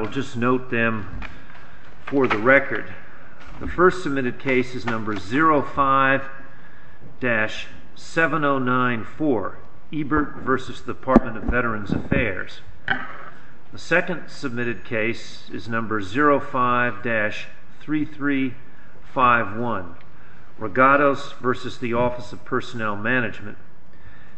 We'll just note them for the record. The first submitted case is number 05-7094, Ebert v. Department of Veterans Affairs. The second submitted case is number 05-3351, Regattos v. Office of Personnel Management.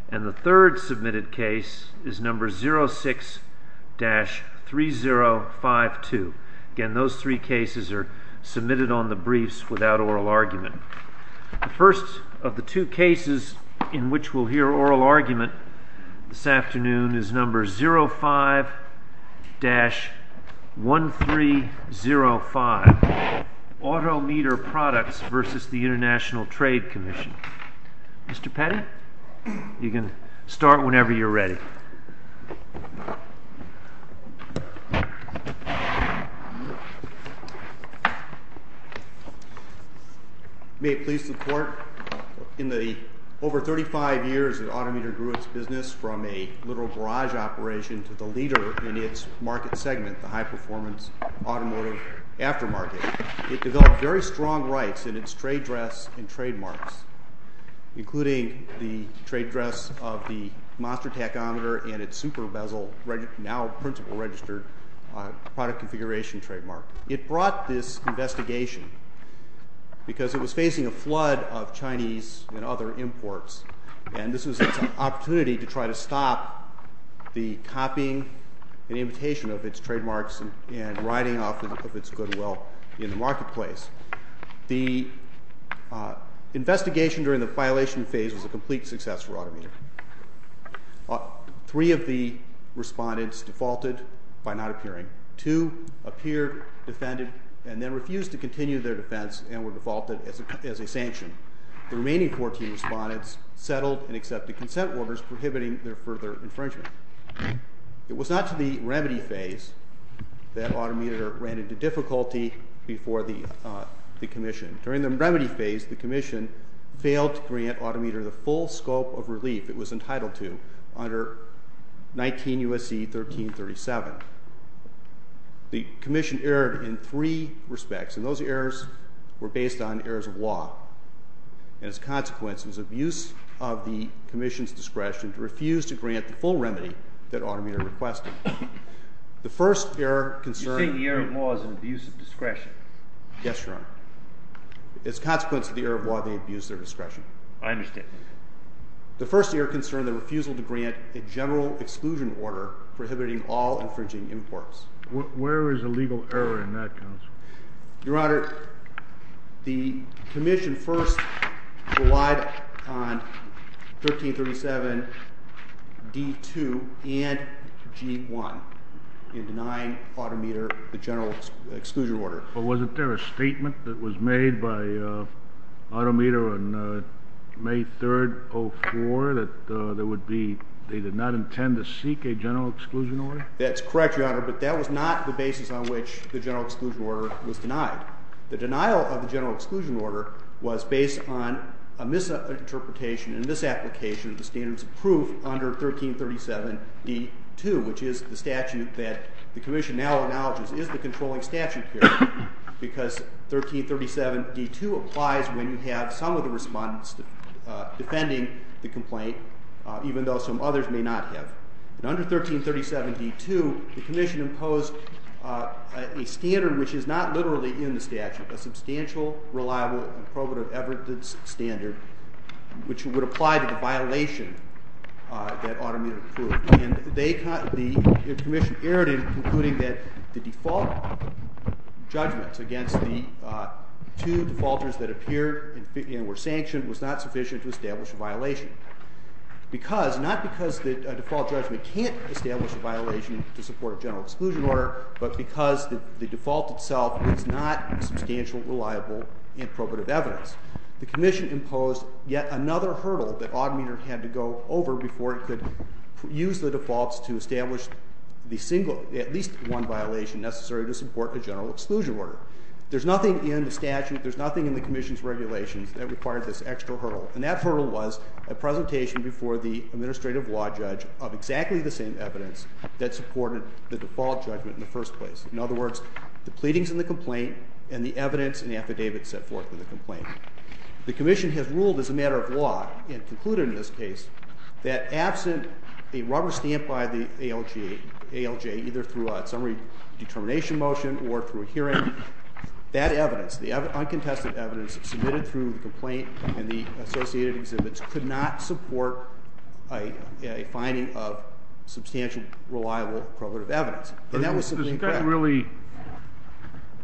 And the third submitted case is number 06-3052. Again, those three cases are submitted on the briefs without oral argument. The first of the two cases in which we'll hear oral argument this afternoon is number 05-1305, Auto Meter Products v. International Trade Commission. Mr. Petty, you can start whenever you're ready. May it please the court, in the over 35 years that Auto Meter grew its business from a literal barrage operation to the leader in its market segment, the high-performance automotive aftermarket, it developed very strong rights in its trade dress and trademarks, including the trade dress of the monster tachometer and its super bezel, now principal registered product configuration trademark. It brought this investigation because it was facing a flood of Chinese and other imports, and this was an opportunity to try to stop the copying and imitation of its trademarks and riding off of its goodwill in the marketplace. The investigation during the violation phase was a complete success for Auto Meter. Three of the respondents defaulted by not appearing. Two appeared, defended, and then refused to continue their defense and were defaulted as a sanction. The remaining 14 respondents settled and accepted consent orders prohibiting their further infringement. It was not to the remedy phase that Auto Meter ran into difficulty before the commission. During the remedy phase, the commission failed to grant Auto Meter the full scope of relief it was entitled to under 19 U.S.C. 1337. The commission erred in three respects, and those errors were based on errors of law. As a consequence, it was abuse of the commission's discretion to refuse to grant the full remedy that Auto Meter requested. The first error concerned— You're saying the error of law is an abuse of discretion? Yes, Your Honor. As a consequence of the error of law, they abused their discretion. I understand. The first error concerned the refusal to grant a general exclusion order prohibiting all infringing imports. Where is the legal error in that, Counsel? Your Honor, the commission first relied on 1337 D.2 and G.1 in denying Auto Meter the general exclusion order. But wasn't there a statement that was made by Auto Meter on May 3, 1904 that they did not intend to seek a general exclusion order? That's correct, Your Honor, but that was not the basis on which the general exclusion order was denied. The denial of the general exclusion order was based on a misinterpretation and misapplication of the standards of proof under 1337 D.2, which is the statute that the commission now acknowledges is the controlling statute here, because 1337 D.2 applies when you have some of the respondents defending the complaint, even though some others may not have. Under 1337 D.2, the commission imposed a standard which is not literally in the statute, a substantial, reliable, and probative evidence standard, which would apply to the violation that Auto Meter proved. And the commission erred in concluding that the default judgment against the two defaulters that appeared and were sanctioned was not sufficient to establish a violation. Not because the default judgment can't establish a violation to support a general exclusion order, but because the default itself is not a substantial, reliable, and probative evidence. The commission imposed yet another hurdle that Auto Meter had to go over before it could use the defaults to establish the single, at least one violation necessary to support a general exclusion order. There's nothing in the statute, there's nothing in the commission's regulations that required this extra hurdle. And that hurdle was a presentation before the administrative law judge of exactly the same evidence that supported the default judgment in the first place. In other words, the pleadings in the complaint and the evidence and affidavits set forth in the complaint. The commission has ruled as a matter of law, and concluded in this case, that absent a rubber stamp by the ALJ, either through a summary determination motion or through a hearing, that evidence, the uncontested evidence submitted through the complaint and the associated exhibits, could not support a finding of substantial, reliable, probative evidence. And that was simply a fact. There's nothing really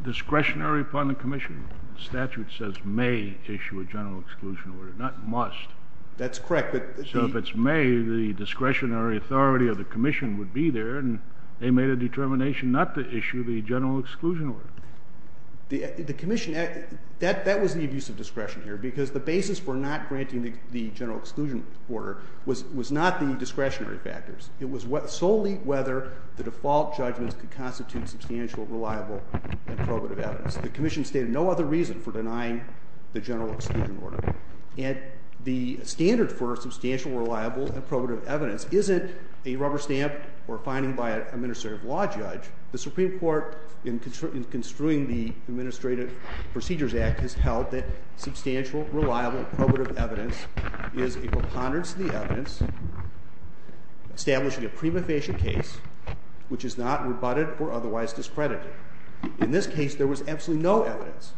discretionary upon the commission. The statute says may issue a general exclusion order, not must. That's correct. So if it's may, the discretionary authority of the commission would be there, and they made a determination not to issue the general exclusion order. The commission, that was the abuse of discretion here, because the basis for not granting the general exclusion order was not the discretionary factors. It was solely whether the default judgments could constitute substantial, reliable, and probative evidence. The commission stated no other reason for denying the general exclusion order. And the standard for substantial, reliable, and probative evidence isn't a rubber stamp or finding by an administrative law judge. The Supreme Court, in construing the Administrative Procedures Act, has held that substantial, reliable, probative evidence is a preponderance of the evidence, establishing a prima facie case which is not rebutted or otherwise discredited. In this case, there was absolutely no evidence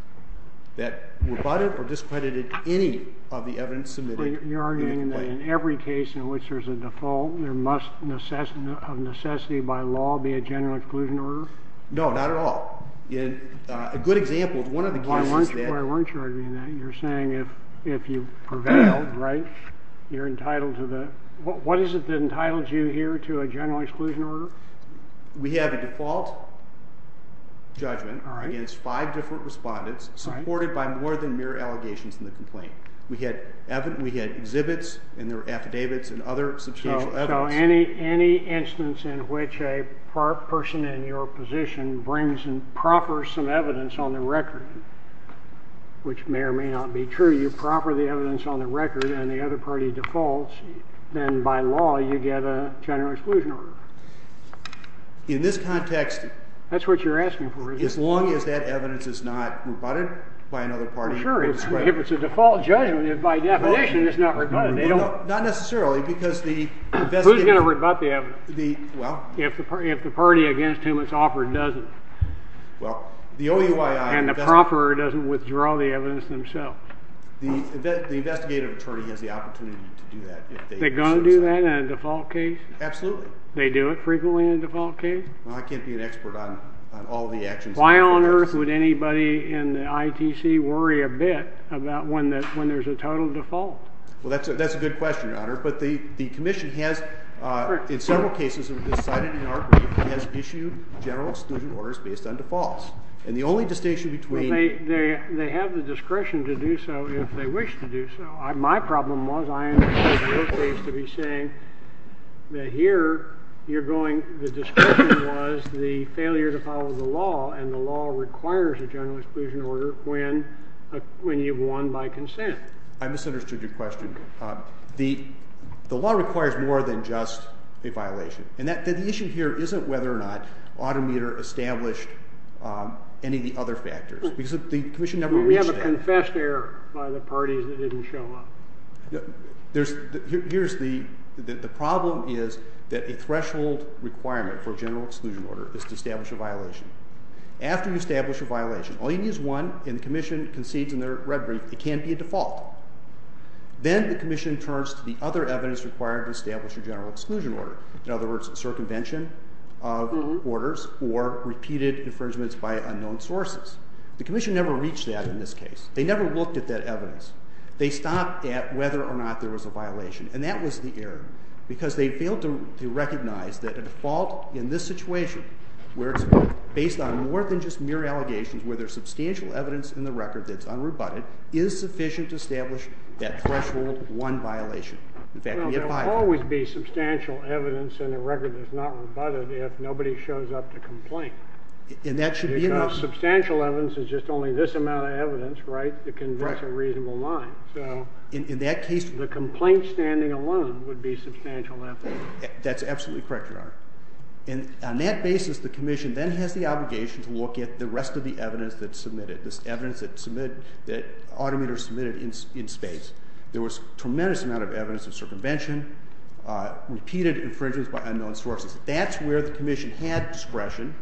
that rebutted or discredited any of the evidence submitted. You're arguing that in every case in which there's a default, there must of necessity by law be a general exclusion order? No, not at all. A good example is one of the cases that- Why weren't you arguing that? You're saying if you prevailed, right, you're entitled to the- What is it that entitles you here to a general exclusion order? We have a default judgment against five different respondents, supported by more than mere allegations in the complaint. We had exhibits, and there were affidavits, and other substantial evidence. So any instance in which a person in your position brings in proper some evidence on the record, which may or may not be true, you proper the evidence on the record, and the other party defaults, then by law you get a general exclusion order. In this context- That's what you're asking for, isn't it? As long as that evidence is not rebutted by another party. Sure. If it's a default judgment, by definition it's not rebutted. Not necessarily, because the- Who's going to rebut the evidence? If the party against whom it's offered doesn't. Well, the OUII- And the proffer doesn't withdraw the evidence themselves. The investigative attorney has the opportunity to do that if they- They're going to do that in a default case? Absolutely. They do it frequently in a default case? Well, I can't be an expert on all the actions- Why on earth would anybody in the ITC worry a bit about when there's a total default? Well, that's a good question, Your Honor. But the commission has, in several cases that were decided in our group, has issued general exclusion orders based on defaults. And the only distinction between- Well, they have the discretion to do so if they wish to do so. My problem was I understood your case to be saying that here you're going- The discretion was the failure to follow the law, and the law requires a general exclusion order when you've won by consent. I misunderstood your question. The law requires more than just a violation. And the issue here isn't whether or not Autometer established any of the other factors. We have a confessed error by the parties that didn't show up. The problem is that a threshold requirement for a general exclusion order is to establish a violation. After you establish a violation, all you need is one, and the commission concedes in their rhetoric it can't be a default. Then the commission turns to the other evidence required to establish a general exclusion order. In other words, circumvention of orders or repeated infringements by unknown sources. The commission never reached that in this case. They never looked at that evidence. They stopped at whether or not there was a violation, and that was the error, because they failed to recognize that a default in this situation, where it's based on more than just mere allegations, where there's substantial evidence in the record that's unrebutted, is sufficient to establish that threshold one violation. Well, there will always be substantial evidence in a record that's not rebutted if nobody shows up to complain. And that should be enough. Because substantial evidence is just only this amount of evidence, right, that can cross a reasonable line. In that case, the complaint standing alone would be substantial evidence. That's absolutely correct, Your Honor. And on that basis, the commission then has the obligation to look at the rest of the evidence that's submitted, this evidence that Autometer submitted in spades. There was a tremendous amount of evidence of circumvention, repeated infringements by unknown sources. That's where the commission had discretion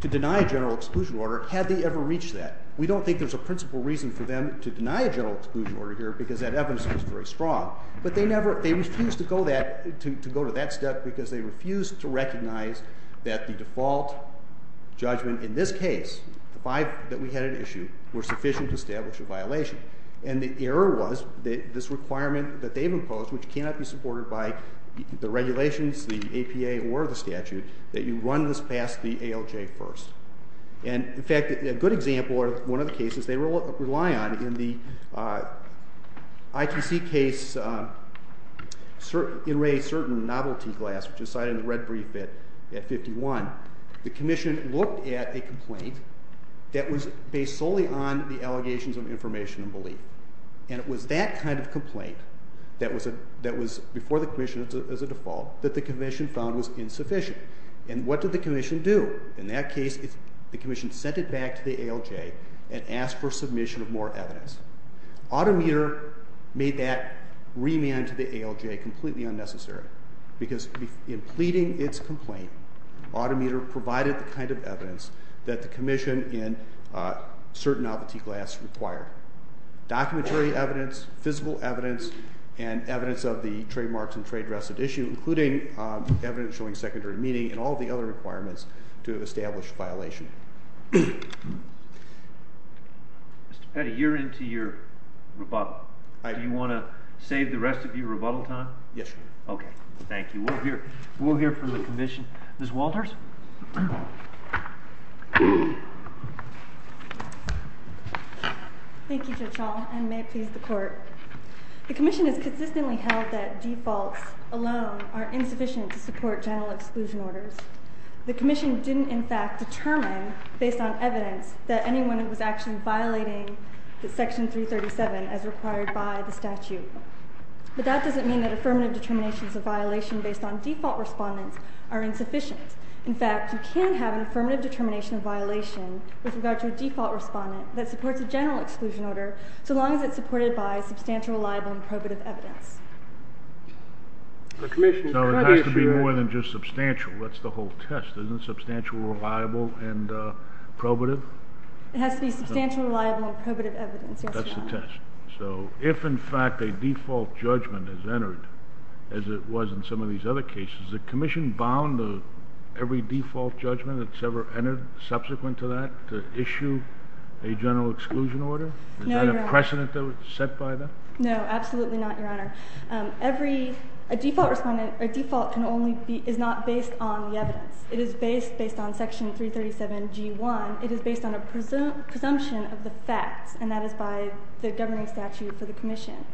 to deny a general exclusion order had they ever reached that. We don't think there's a principal reason for them to deny a general exclusion order here because that evidence was very strong. But they refused to go to that step because they refused to recognize that the default judgment in this case, that we had an issue, was sufficient to establish a violation. And the error was that this requirement that they've imposed, which cannot be supported by the regulations, the APA, or the statute, that you run this past the ALJ first. And, in fact, a good example of one of the cases they rely on, in the ITC case in Ray Certain, Novelty Glass, which is cited in the red brief at 51, the commission looked at a complaint that was based solely on the allegations of information and belief. And it was that kind of complaint that was before the commission as a default that the commission found was insufficient. And what did the commission do? In that case, the commission sent it back to the ALJ and asked for submission of more evidence. Autometer made that remand to the ALJ completely unnecessary because in pleading its complaint, Autometer provided the kind of evidence that the commission in Certain, Novelty Glass required. Documentary evidence, physical evidence, and evidence of the trademarks and trade restitution, including evidence showing secondary meaning and all the other requirements to have established a violation. Mr. Petty, you're into your rebuttal. Do you want to save the rest of your rebuttal time? Yes, sir. Okay. Thank you. We'll hear from the commission. Ms. Walters? Thank you, Judge Hall, and may it please the Court. The commission has consistently held that defaults alone are insufficient to support general exclusion orders. The commission didn't in fact determine, based on evidence, that anyone was actually violating Section 337 as required by the statute. But that doesn't mean that affirmative determination of violation based on default respondents are insufficient. In fact, you can have an affirmative determination of violation with regard to a default respondent that supports a general exclusion order so long as it's supported by substantial, reliable, and probative evidence. So it has to be more than just substantial. That's the whole test, isn't it? Substantial, reliable, and probative? It has to be substantial, reliable, and probative evidence. That's the test. So if in fact a default judgment is entered, as it was in some of these other cases, is the commission bound to every default judgment that's ever entered subsequent to that to issue a general exclusion order? No, Your Honor. Is that a precedent set by them? No, absolutely not, Your Honor. A default respondent, a default, is not based on the evidence. It is based on Section 337G1. It is based on a presumption of the facts, and that is by the governing statute for the commission.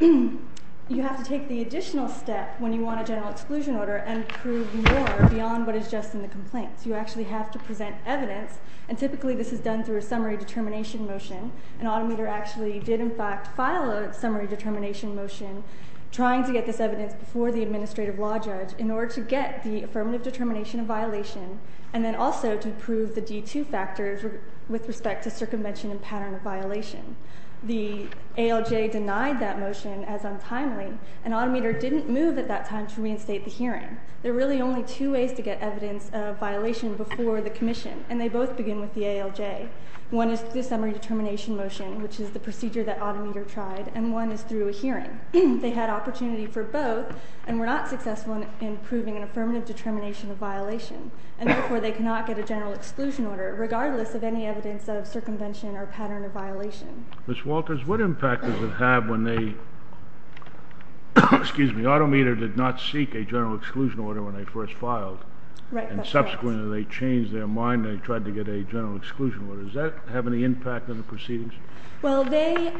You have to take the additional step when you want a general exclusion order and prove more beyond what is just in the complaints. You actually have to present evidence, and typically this is done through a summary determination motion. An automator actually did in fact file a summary determination motion trying to get this evidence before the administrative law judge in order to get the affirmative determination of violation and then also to prove the D2 factors with respect to circumvention and pattern of violation. The ALJ denied that motion as untimely, and automator didn't move at that time to reinstate the hearing. There are really only two ways to get evidence of violation before the commission, and they both begin with the ALJ. One is the summary determination motion, which is the procedure that automator tried, and one is through a hearing. They had opportunity for both and were not successful in proving an affirmative determination of violation, and therefore they cannot get a general exclusion order regardless of any evidence of circumvention or pattern of violation. Ms. Walkers, what impact does it have when they did not seek a general exclusion order when they first filed? Right. And subsequently they changed their mind and they tried to get a general exclusion order. Does that have any impact on the proceedings? Well, they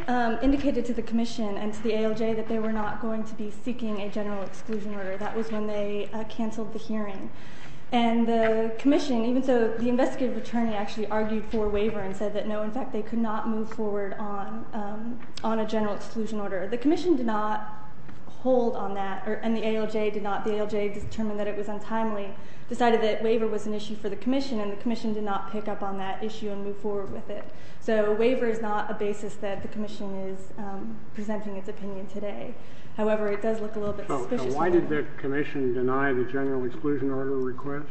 indicated to the commission and to the ALJ that they were not going to be seeking a general exclusion order. That was when they canceled the hearing. And the commission, even so, the investigative attorney actually argued for a waiver and said that no, in fact, they could not move forward on a general exclusion order. The commission did not hold on that, and the ALJ did not. The ALJ determined that it was untimely, decided that waiver was an issue for the commission, and the commission did not pick up on that issue and move forward with it. So a waiver is not a basis that the commission is presenting its opinion today. However, it does look a little bit suspicious. Why did the commission deny the general exclusion order request?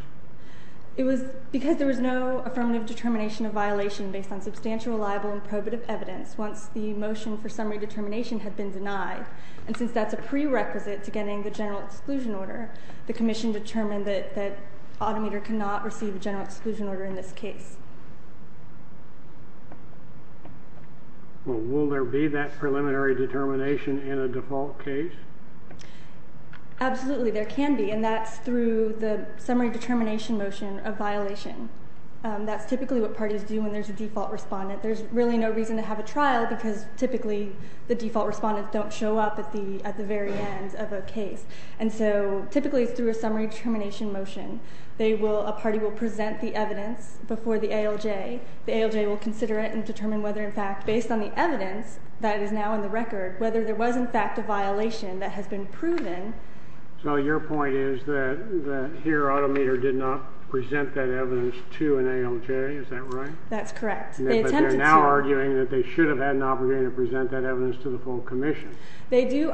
It was because there was no affirmative determination of violation based on substantial, liable, and probative evidence once the motion for summary determination had been denied. And since that's a prerequisite to getting the general exclusion order, the commission determined that Autometer cannot receive a general exclusion order in this case. Well, will there be that preliminary determination in a default case? Absolutely, there can be, and that's through the summary determination motion of violation. That's typically what parties do when there's a default respondent. There's really no reason to have a trial because typically the default respondents don't show up at the very end of a case. And so typically it's through a summary determination motion. A party will present the evidence before the ALJ. The ALJ will consider it and determine whether, in fact, based on the evidence that is now on the record, whether there was, in fact, a violation that has been proven. So your point is that here Autometer did not present that evidence to an ALJ. Is that right? That's correct. They attempted to. But they're now arguing that they should have had an opportunity to present that evidence to the full commission. That's what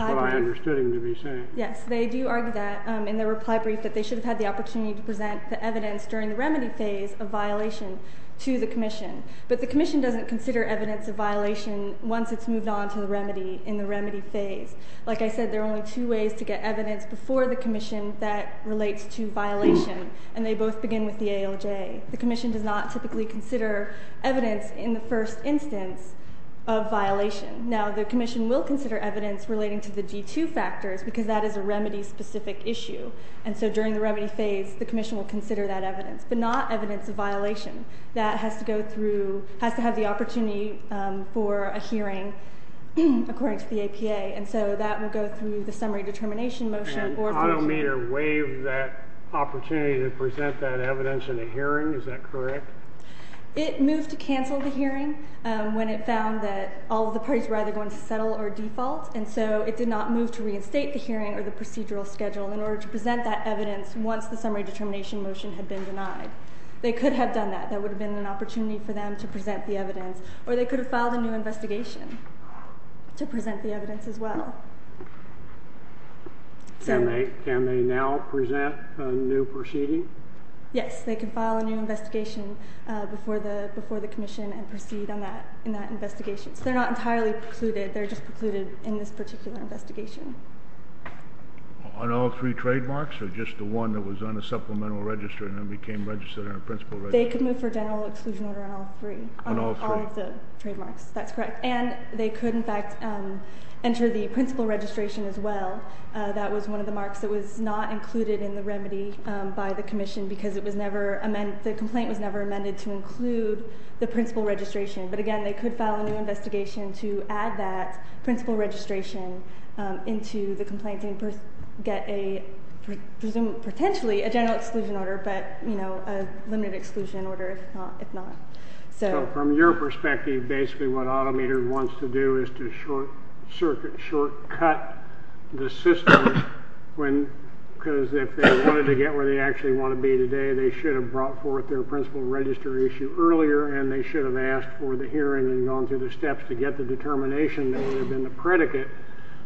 I understood him to be saying. Yes, they do argue that in their reply brief that they should have had the opportunity to present the evidence during the remedy phase of violation to the commission. But the commission doesn't consider evidence of violation once it's moved on to the remedy in the remedy phase. Like I said, there are only two ways to get evidence before the commission that relates to violation, and they both begin with the ALJ. The commission does not typically consider evidence in the first instance of violation. Now, the commission will consider evidence relating to the G2 factors because that is a remedy-specific issue. And so during the remedy phase, the commission will consider that evidence, but not evidence of violation. That has to have the opportunity for a hearing according to the APA. And so that will go through the summary determination motion. And Autometer waived that opportunity to present that evidence in a hearing. Is that correct? It moved to cancel the hearing when it found that all of the parties were either going to settle or default. And so it did not move to reinstate the hearing or the procedural schedule in order to present that evidence once the summary determination motion had been denied. They could have done that. That would have been an opportunity for them to present the evidence. Or they could have filed a new investigation to present the evidence as well. Can they now present a new proceeding? Yes. They can file a new investigation before the commission and proceed in that investigation. So they're not entirely precluded. They're just precluded in this particular investigation. On all three trademarks or just the one that was on a supplemental register and then became registered on a principal register? They could move for general exclusion order on all three. On all three? On all of the trademarks. That's correct. And they could, in fact, enter the principal registration as well. That was one of the marks that was not included in the remedy by the commission because the complaint was never amended to include the principal registration. But, again, they could file a new investigation to add that principal registration into the complaint and get a presumed, potentially, a general exclusion order, but a limited exclusion order if not. So from your perspective, basically what Auto Meter wants to do is to shortcut the system because if they wanted to get where they actually want to be today, they should have brought forth their principal register issue earlier and they should have asked for the hearing and gone through the steps to get the determination that would have been the predicate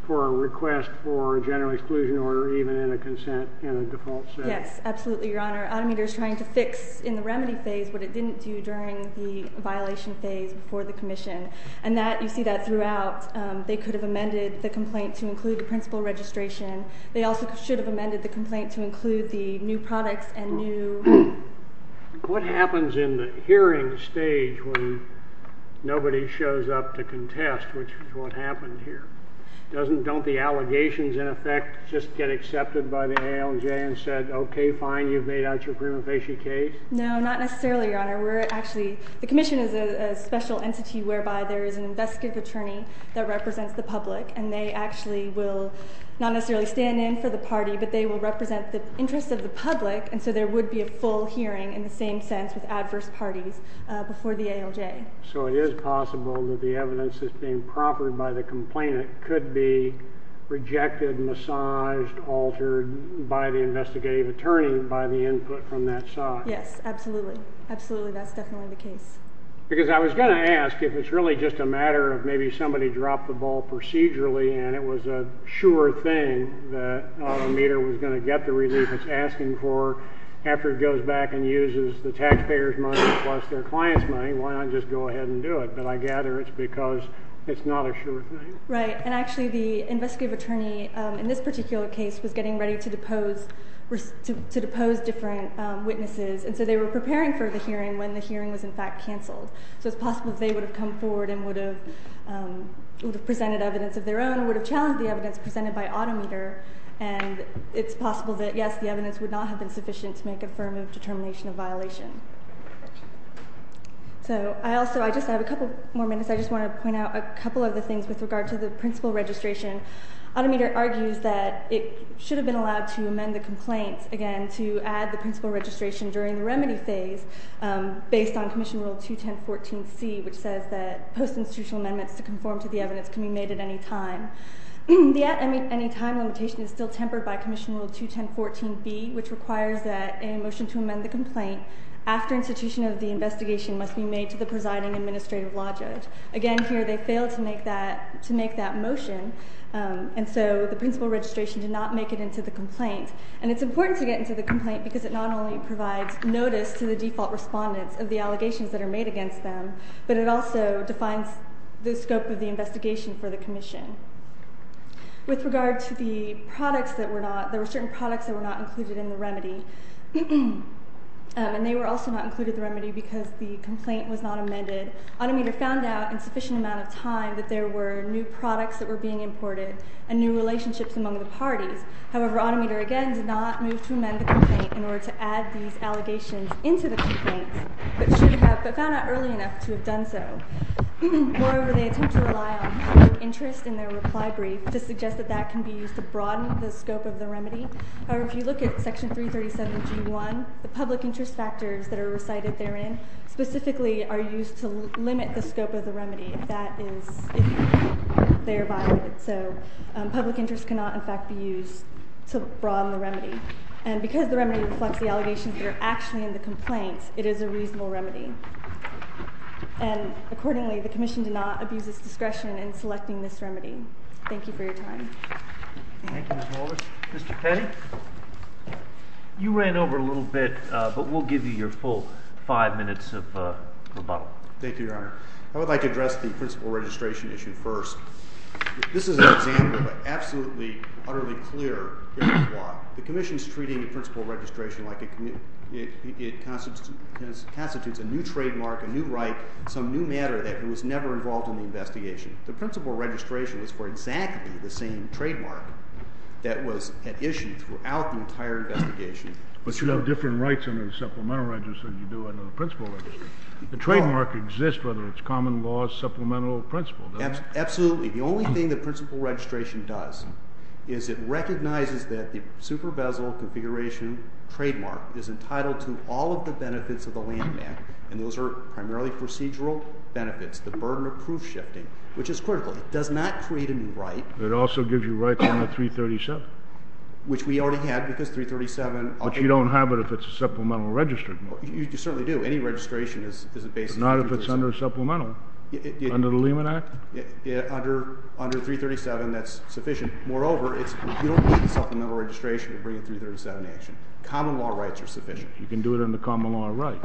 for a request for a general exclusion order even in a consent in a default setting. Yes, absolutely, Your Honor. Auto Meter is trying to fix in the remedy phase what it didn't do during the violation phase before the commission. And you see that throughout. They could have amended the complaint to include the principal registration. They also should have amended the complaint to include the new products and new... What happens in the hearing stage when nobody shows up to contest, which is what happened here? Don't the allegations, in effect, just get accepted by the ALJ and said, OK, fine, you've made out your prima facie case? No, not necessarily, Your Honor. We're actually, the commission is a special entity whereby there is an investigative attorney that represents the public and they actually will not necessarily stand in for the party, but they will represent the interests of the public and so there would be a full hearing in the same sense with adverse parties before the ALJ. So it is possible that the evidence that's being proffered by the complainant could be rejected, massaged, altered by the investigative attorney by the input from that side? Yes, absolutely. Absolutely, that's definitely the case. Because I was going to ask if it's really just a matter of maybe somebody dropped the ball procedurally and it was a sure thing that Auto Meter was going to get the relief it's asking for after it goes back and uses the taxpayer's money plus their client's money, why not just go ahead and do it? But I gather it's because it's not a sure thing. Right, and actually the investigative attorney in this particular case was getting ready to depose different witnesses and so they were preparing for the hearing when the hearing was in fact canceled. So it's possible they would have come forward and would have presented evidence of their own, would have challenged the evidence presented by Auto Meter and it's possible that, yes, the evidence would not have been sufficient to make a firm determination of violation. So I also, I just have a couple more minutes, I just want to point out a couple of other things with regard to the principal registration. Auto Meter argues that it should have been allowed to amend the complaint, again, to add the principal registration during the remedy phase based on Commission Rule 210.14c, which says that post-institutional amendments to conform to the evidence can be made at any time. The at any time limitation is still tempered by Commission Rule 210.14b, which requires that a motion to amend the complaint after institution of the investigation must be made to the presiding administrative law judge. Again, here they failed to make that motion and so the principal registration did not make it into the complaint. And it's important to get into the complaint because it not only provides notice to the default respondents of the allegations that are made against them, but it also defines the scope of the investigation for the Commission. With regard to the products that were not, there were certain products that were not included in the remedy, and they were also not included in the remedy because the complaint was not amended. Auto Meter found out in sufficient amount of time that there were new products that were being imported and new relationships among the parties. However, Auto Meter, again, did not move to amend the complaint in order to add these allegations into the complaint, but found out early enough to have done so. Moreover, they attempt to rely on public interest in their reply brief to suggest that that can be used to broaden the scope of the remedy. However, if you look at Section 337 of G1, the public interest factors that are recited therein specifically are used to limit the scope of the remedy. That is if they are violated. So public interest cannot, in fact, be used to broaden the remedy. And because the remedy reflects the allegations that are actually in the complaint, it is a reasonable remedy. And accordingly, the Commission did not abuse its discretion in selecting this remedy. Thank you for your time. Thank you, Ms. Holder. Mr. Petty? You ran over a little bit, but we'll give you your full five minutes of rebuttal. Thank you, Your Honor. I would like to address the principal registration issue first. This is an example of an absolutely, utterly clear case of law. The Commission is treating the principal registration like it constitutes a new trademark, a new right, some new matter that was never involved in the investigation. The principal registration is for exactly the same trademark that was at issue throughout the entire investigation. But you have different rights under the supplemental register than you do under the principal registration. The trademark exists whether it's common law, supplemental, or principal. Absolutely. The only thing the principal registration does is it recognizes that the super-bezel configuration trademark is entitled to all of the benefits of the landmark, and those are primarily procedural benefits, the burden of proof-shifting, which is critical. It does not create a new right. It also gives you rights under 337. Which we already had, because 337— But you don't have it if it's a supplemental register. You certainly do. Any registration is a basic— But not if it's under supplemental. Under the Lehman Act? Under 337, that's sufficient. Moreover, you don't need a supplemental registration to bring a 337 action. Common law rights are sufficient. You can do it under common law rights.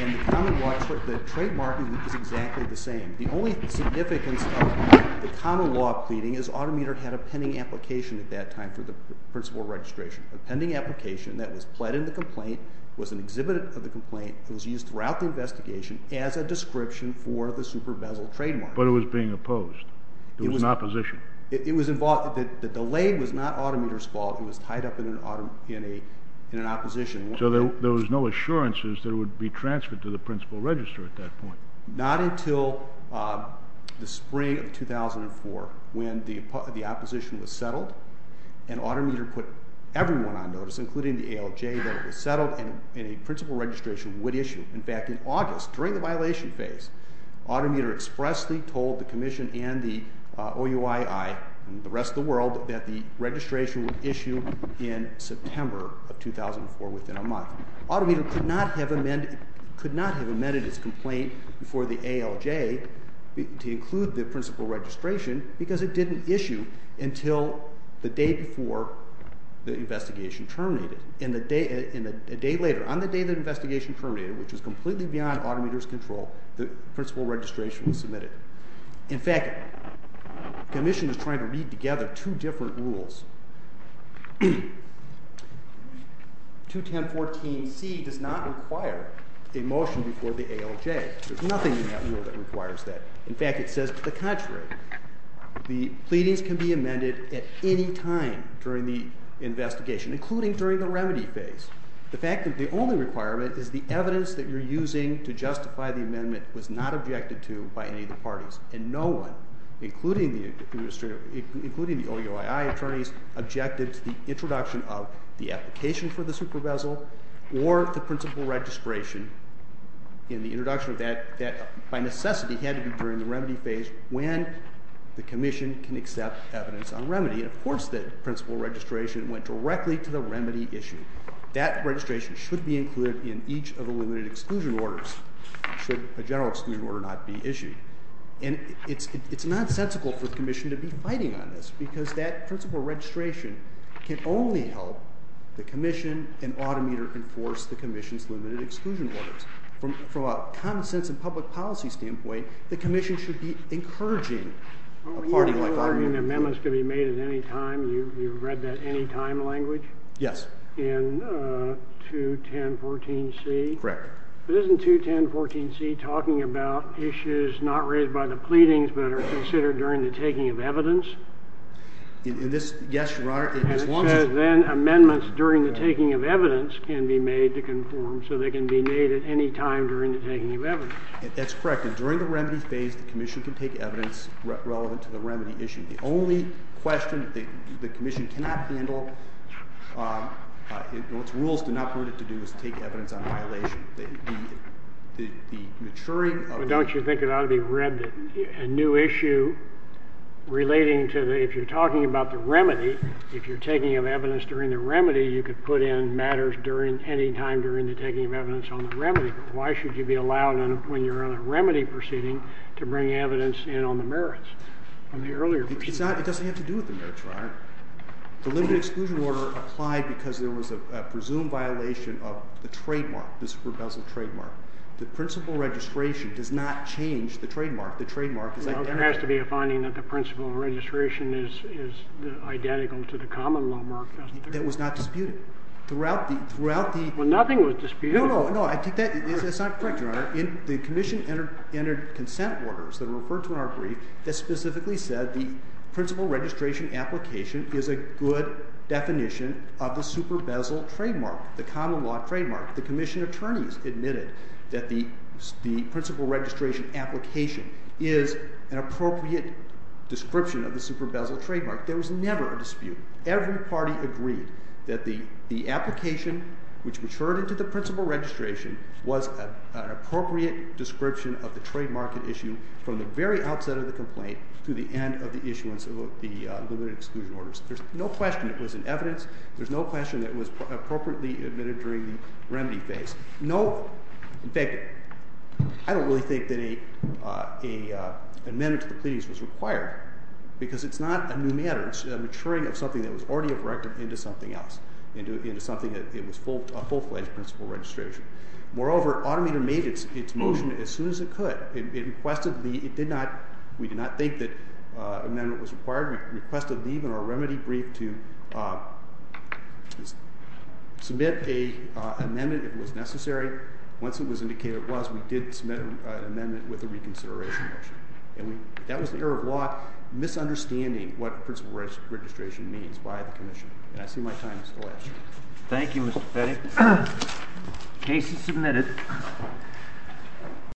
And the trademark is exactly the same. The only significance of the common law pleading is Auto Meter had a pending application at that time for the principal registration. A pending application that was pled in the complaint, was an exhibit of the complaint, and was used throughout the investigation as a description for the super-bezel trademark. But it was being opposed. It was in opposition. The delay was not Auto Meter's fault. It was tied up in an opposition. So there was no assurances that it would be transferred to the principal register at that point. Not until the spring of 2004, when the opposition was settled, and Auto Meter put everyone on notice, including the ALJ, that it was settled, and a principal registration would issue. In fact, in August, during the violation phase, Auto Meter expressly told the Commission and the OUII, and the rest of the world, that the registration would issue in September of 2004, within a month. Auto Meter could not have amended its complaint before the ALJ to include the principal registration, because it didn't issue until the day before the investigation terminated. And a day later, on the day the investigation terminated, which was completely beyond Auto Meter's control, the principal registration was submitted. In fact, the Commission is trying to read together two different rules. 21014C does not require a motion before the ALJ. There's nothing in that rule that requires that. In fact, it says, to the contrary, the pleadings can be amended at any time during the investigation, including during the remedy phase. The fact that the only requirement is the evidence that you're using to justify the amendment was not objected to by any of the parties. And no one, including the OUII attorneys, objected to the introduction of the application for the super bezel or the principal registration in the introduction of that, that by necessity had to be during the remedy phase when the Commission can accept evidence on remedy. And of course, the principal registration went directly to the remedy issue. That registration should be included in each of the limited exclusion orders, should a general exclusion order not be issued. And it's nonsensical for the Commission to be fighting on this, because that principal registration can only help the Commission and Auto Meter enforce the Commission's limited exclusion orders. From a common-sense and public policy standpoint, the Commission should be encouraging a party like Auto Meter... When you were arguing that amendments could be made at any time, you read that anytime language? Yes. In 21014C? Correct. But isn't 21014C talking about issues not raised by the pleadings, but are considered during the taking of evidence? In this, yes, Your Honor. And it says then amendments during the taking of evidence can be made to conform, so they can be made at any time during the taking of evidence. That's correct. And during the remedy phase, the Commission can take evidence relevant to the remedy issue. The only question that the Commission cannot handle, its rules do not permit it to do, is take evidence on violation. The maturing of... Don't you think it ought to be read that a new issue relating to the... If you're talking about the remedy, if you're taking of evidence during the remedy, you could put in matters any time during the taking of evidence on the remedy, but why should you be allowed when you're on a remedy proceeding to bring evidence in on the merits from the earlier proceeding? It doesn't have to do with the merits, Your Honor. The limited exclusion order applied because there was a presumed violation of the trademark, the super-bezel trademark. The principal registration does not change the trademark. The trademark is identical. Well, there has to be a finding that the principal registration is identical to the common law mark, doesn't it? That was not disputed. Throughout the... Well, nothing was disputed. No, no, no. I think that's not correct, Your Honor. The Commission entered consent orders that are referred to in our brief that specifically said the principal registration application is a good definition of the super-bezel trademark, the common law trademark. The Commission attorneys admitted that the principal registration application is an appropriate description of the super-bezel trademark. There was never a dispute. Every party agreed that the application which matured into the principal registration was an appropriate description of the trademark at issue from the very outset of the complaint to the end of the issuance of the limited excluded orders. There's no question it was in evidence. There's no question that it was appropriately admitted during the remedy phase. No. In fact, I don't really think that an amendment to the pleadings was required because it's not a new matter. It's a maturing of something that was already a record into something else, into something that was a full-fledged principal registration. Moreover, Autometer made its motion as soon as it could. It requested the... It did not... We did not think that an amendment was required. We requested leave in our remedy brief to submit an amendment if it was necessary. Once it was indicated it was, we did submit an amendment with a reconsideration motion. And that was the error of law, misunderstanding what principal registration means by the Commission. And I see my time is elapsing. Thank you, Mr. Petty. Case is submitted.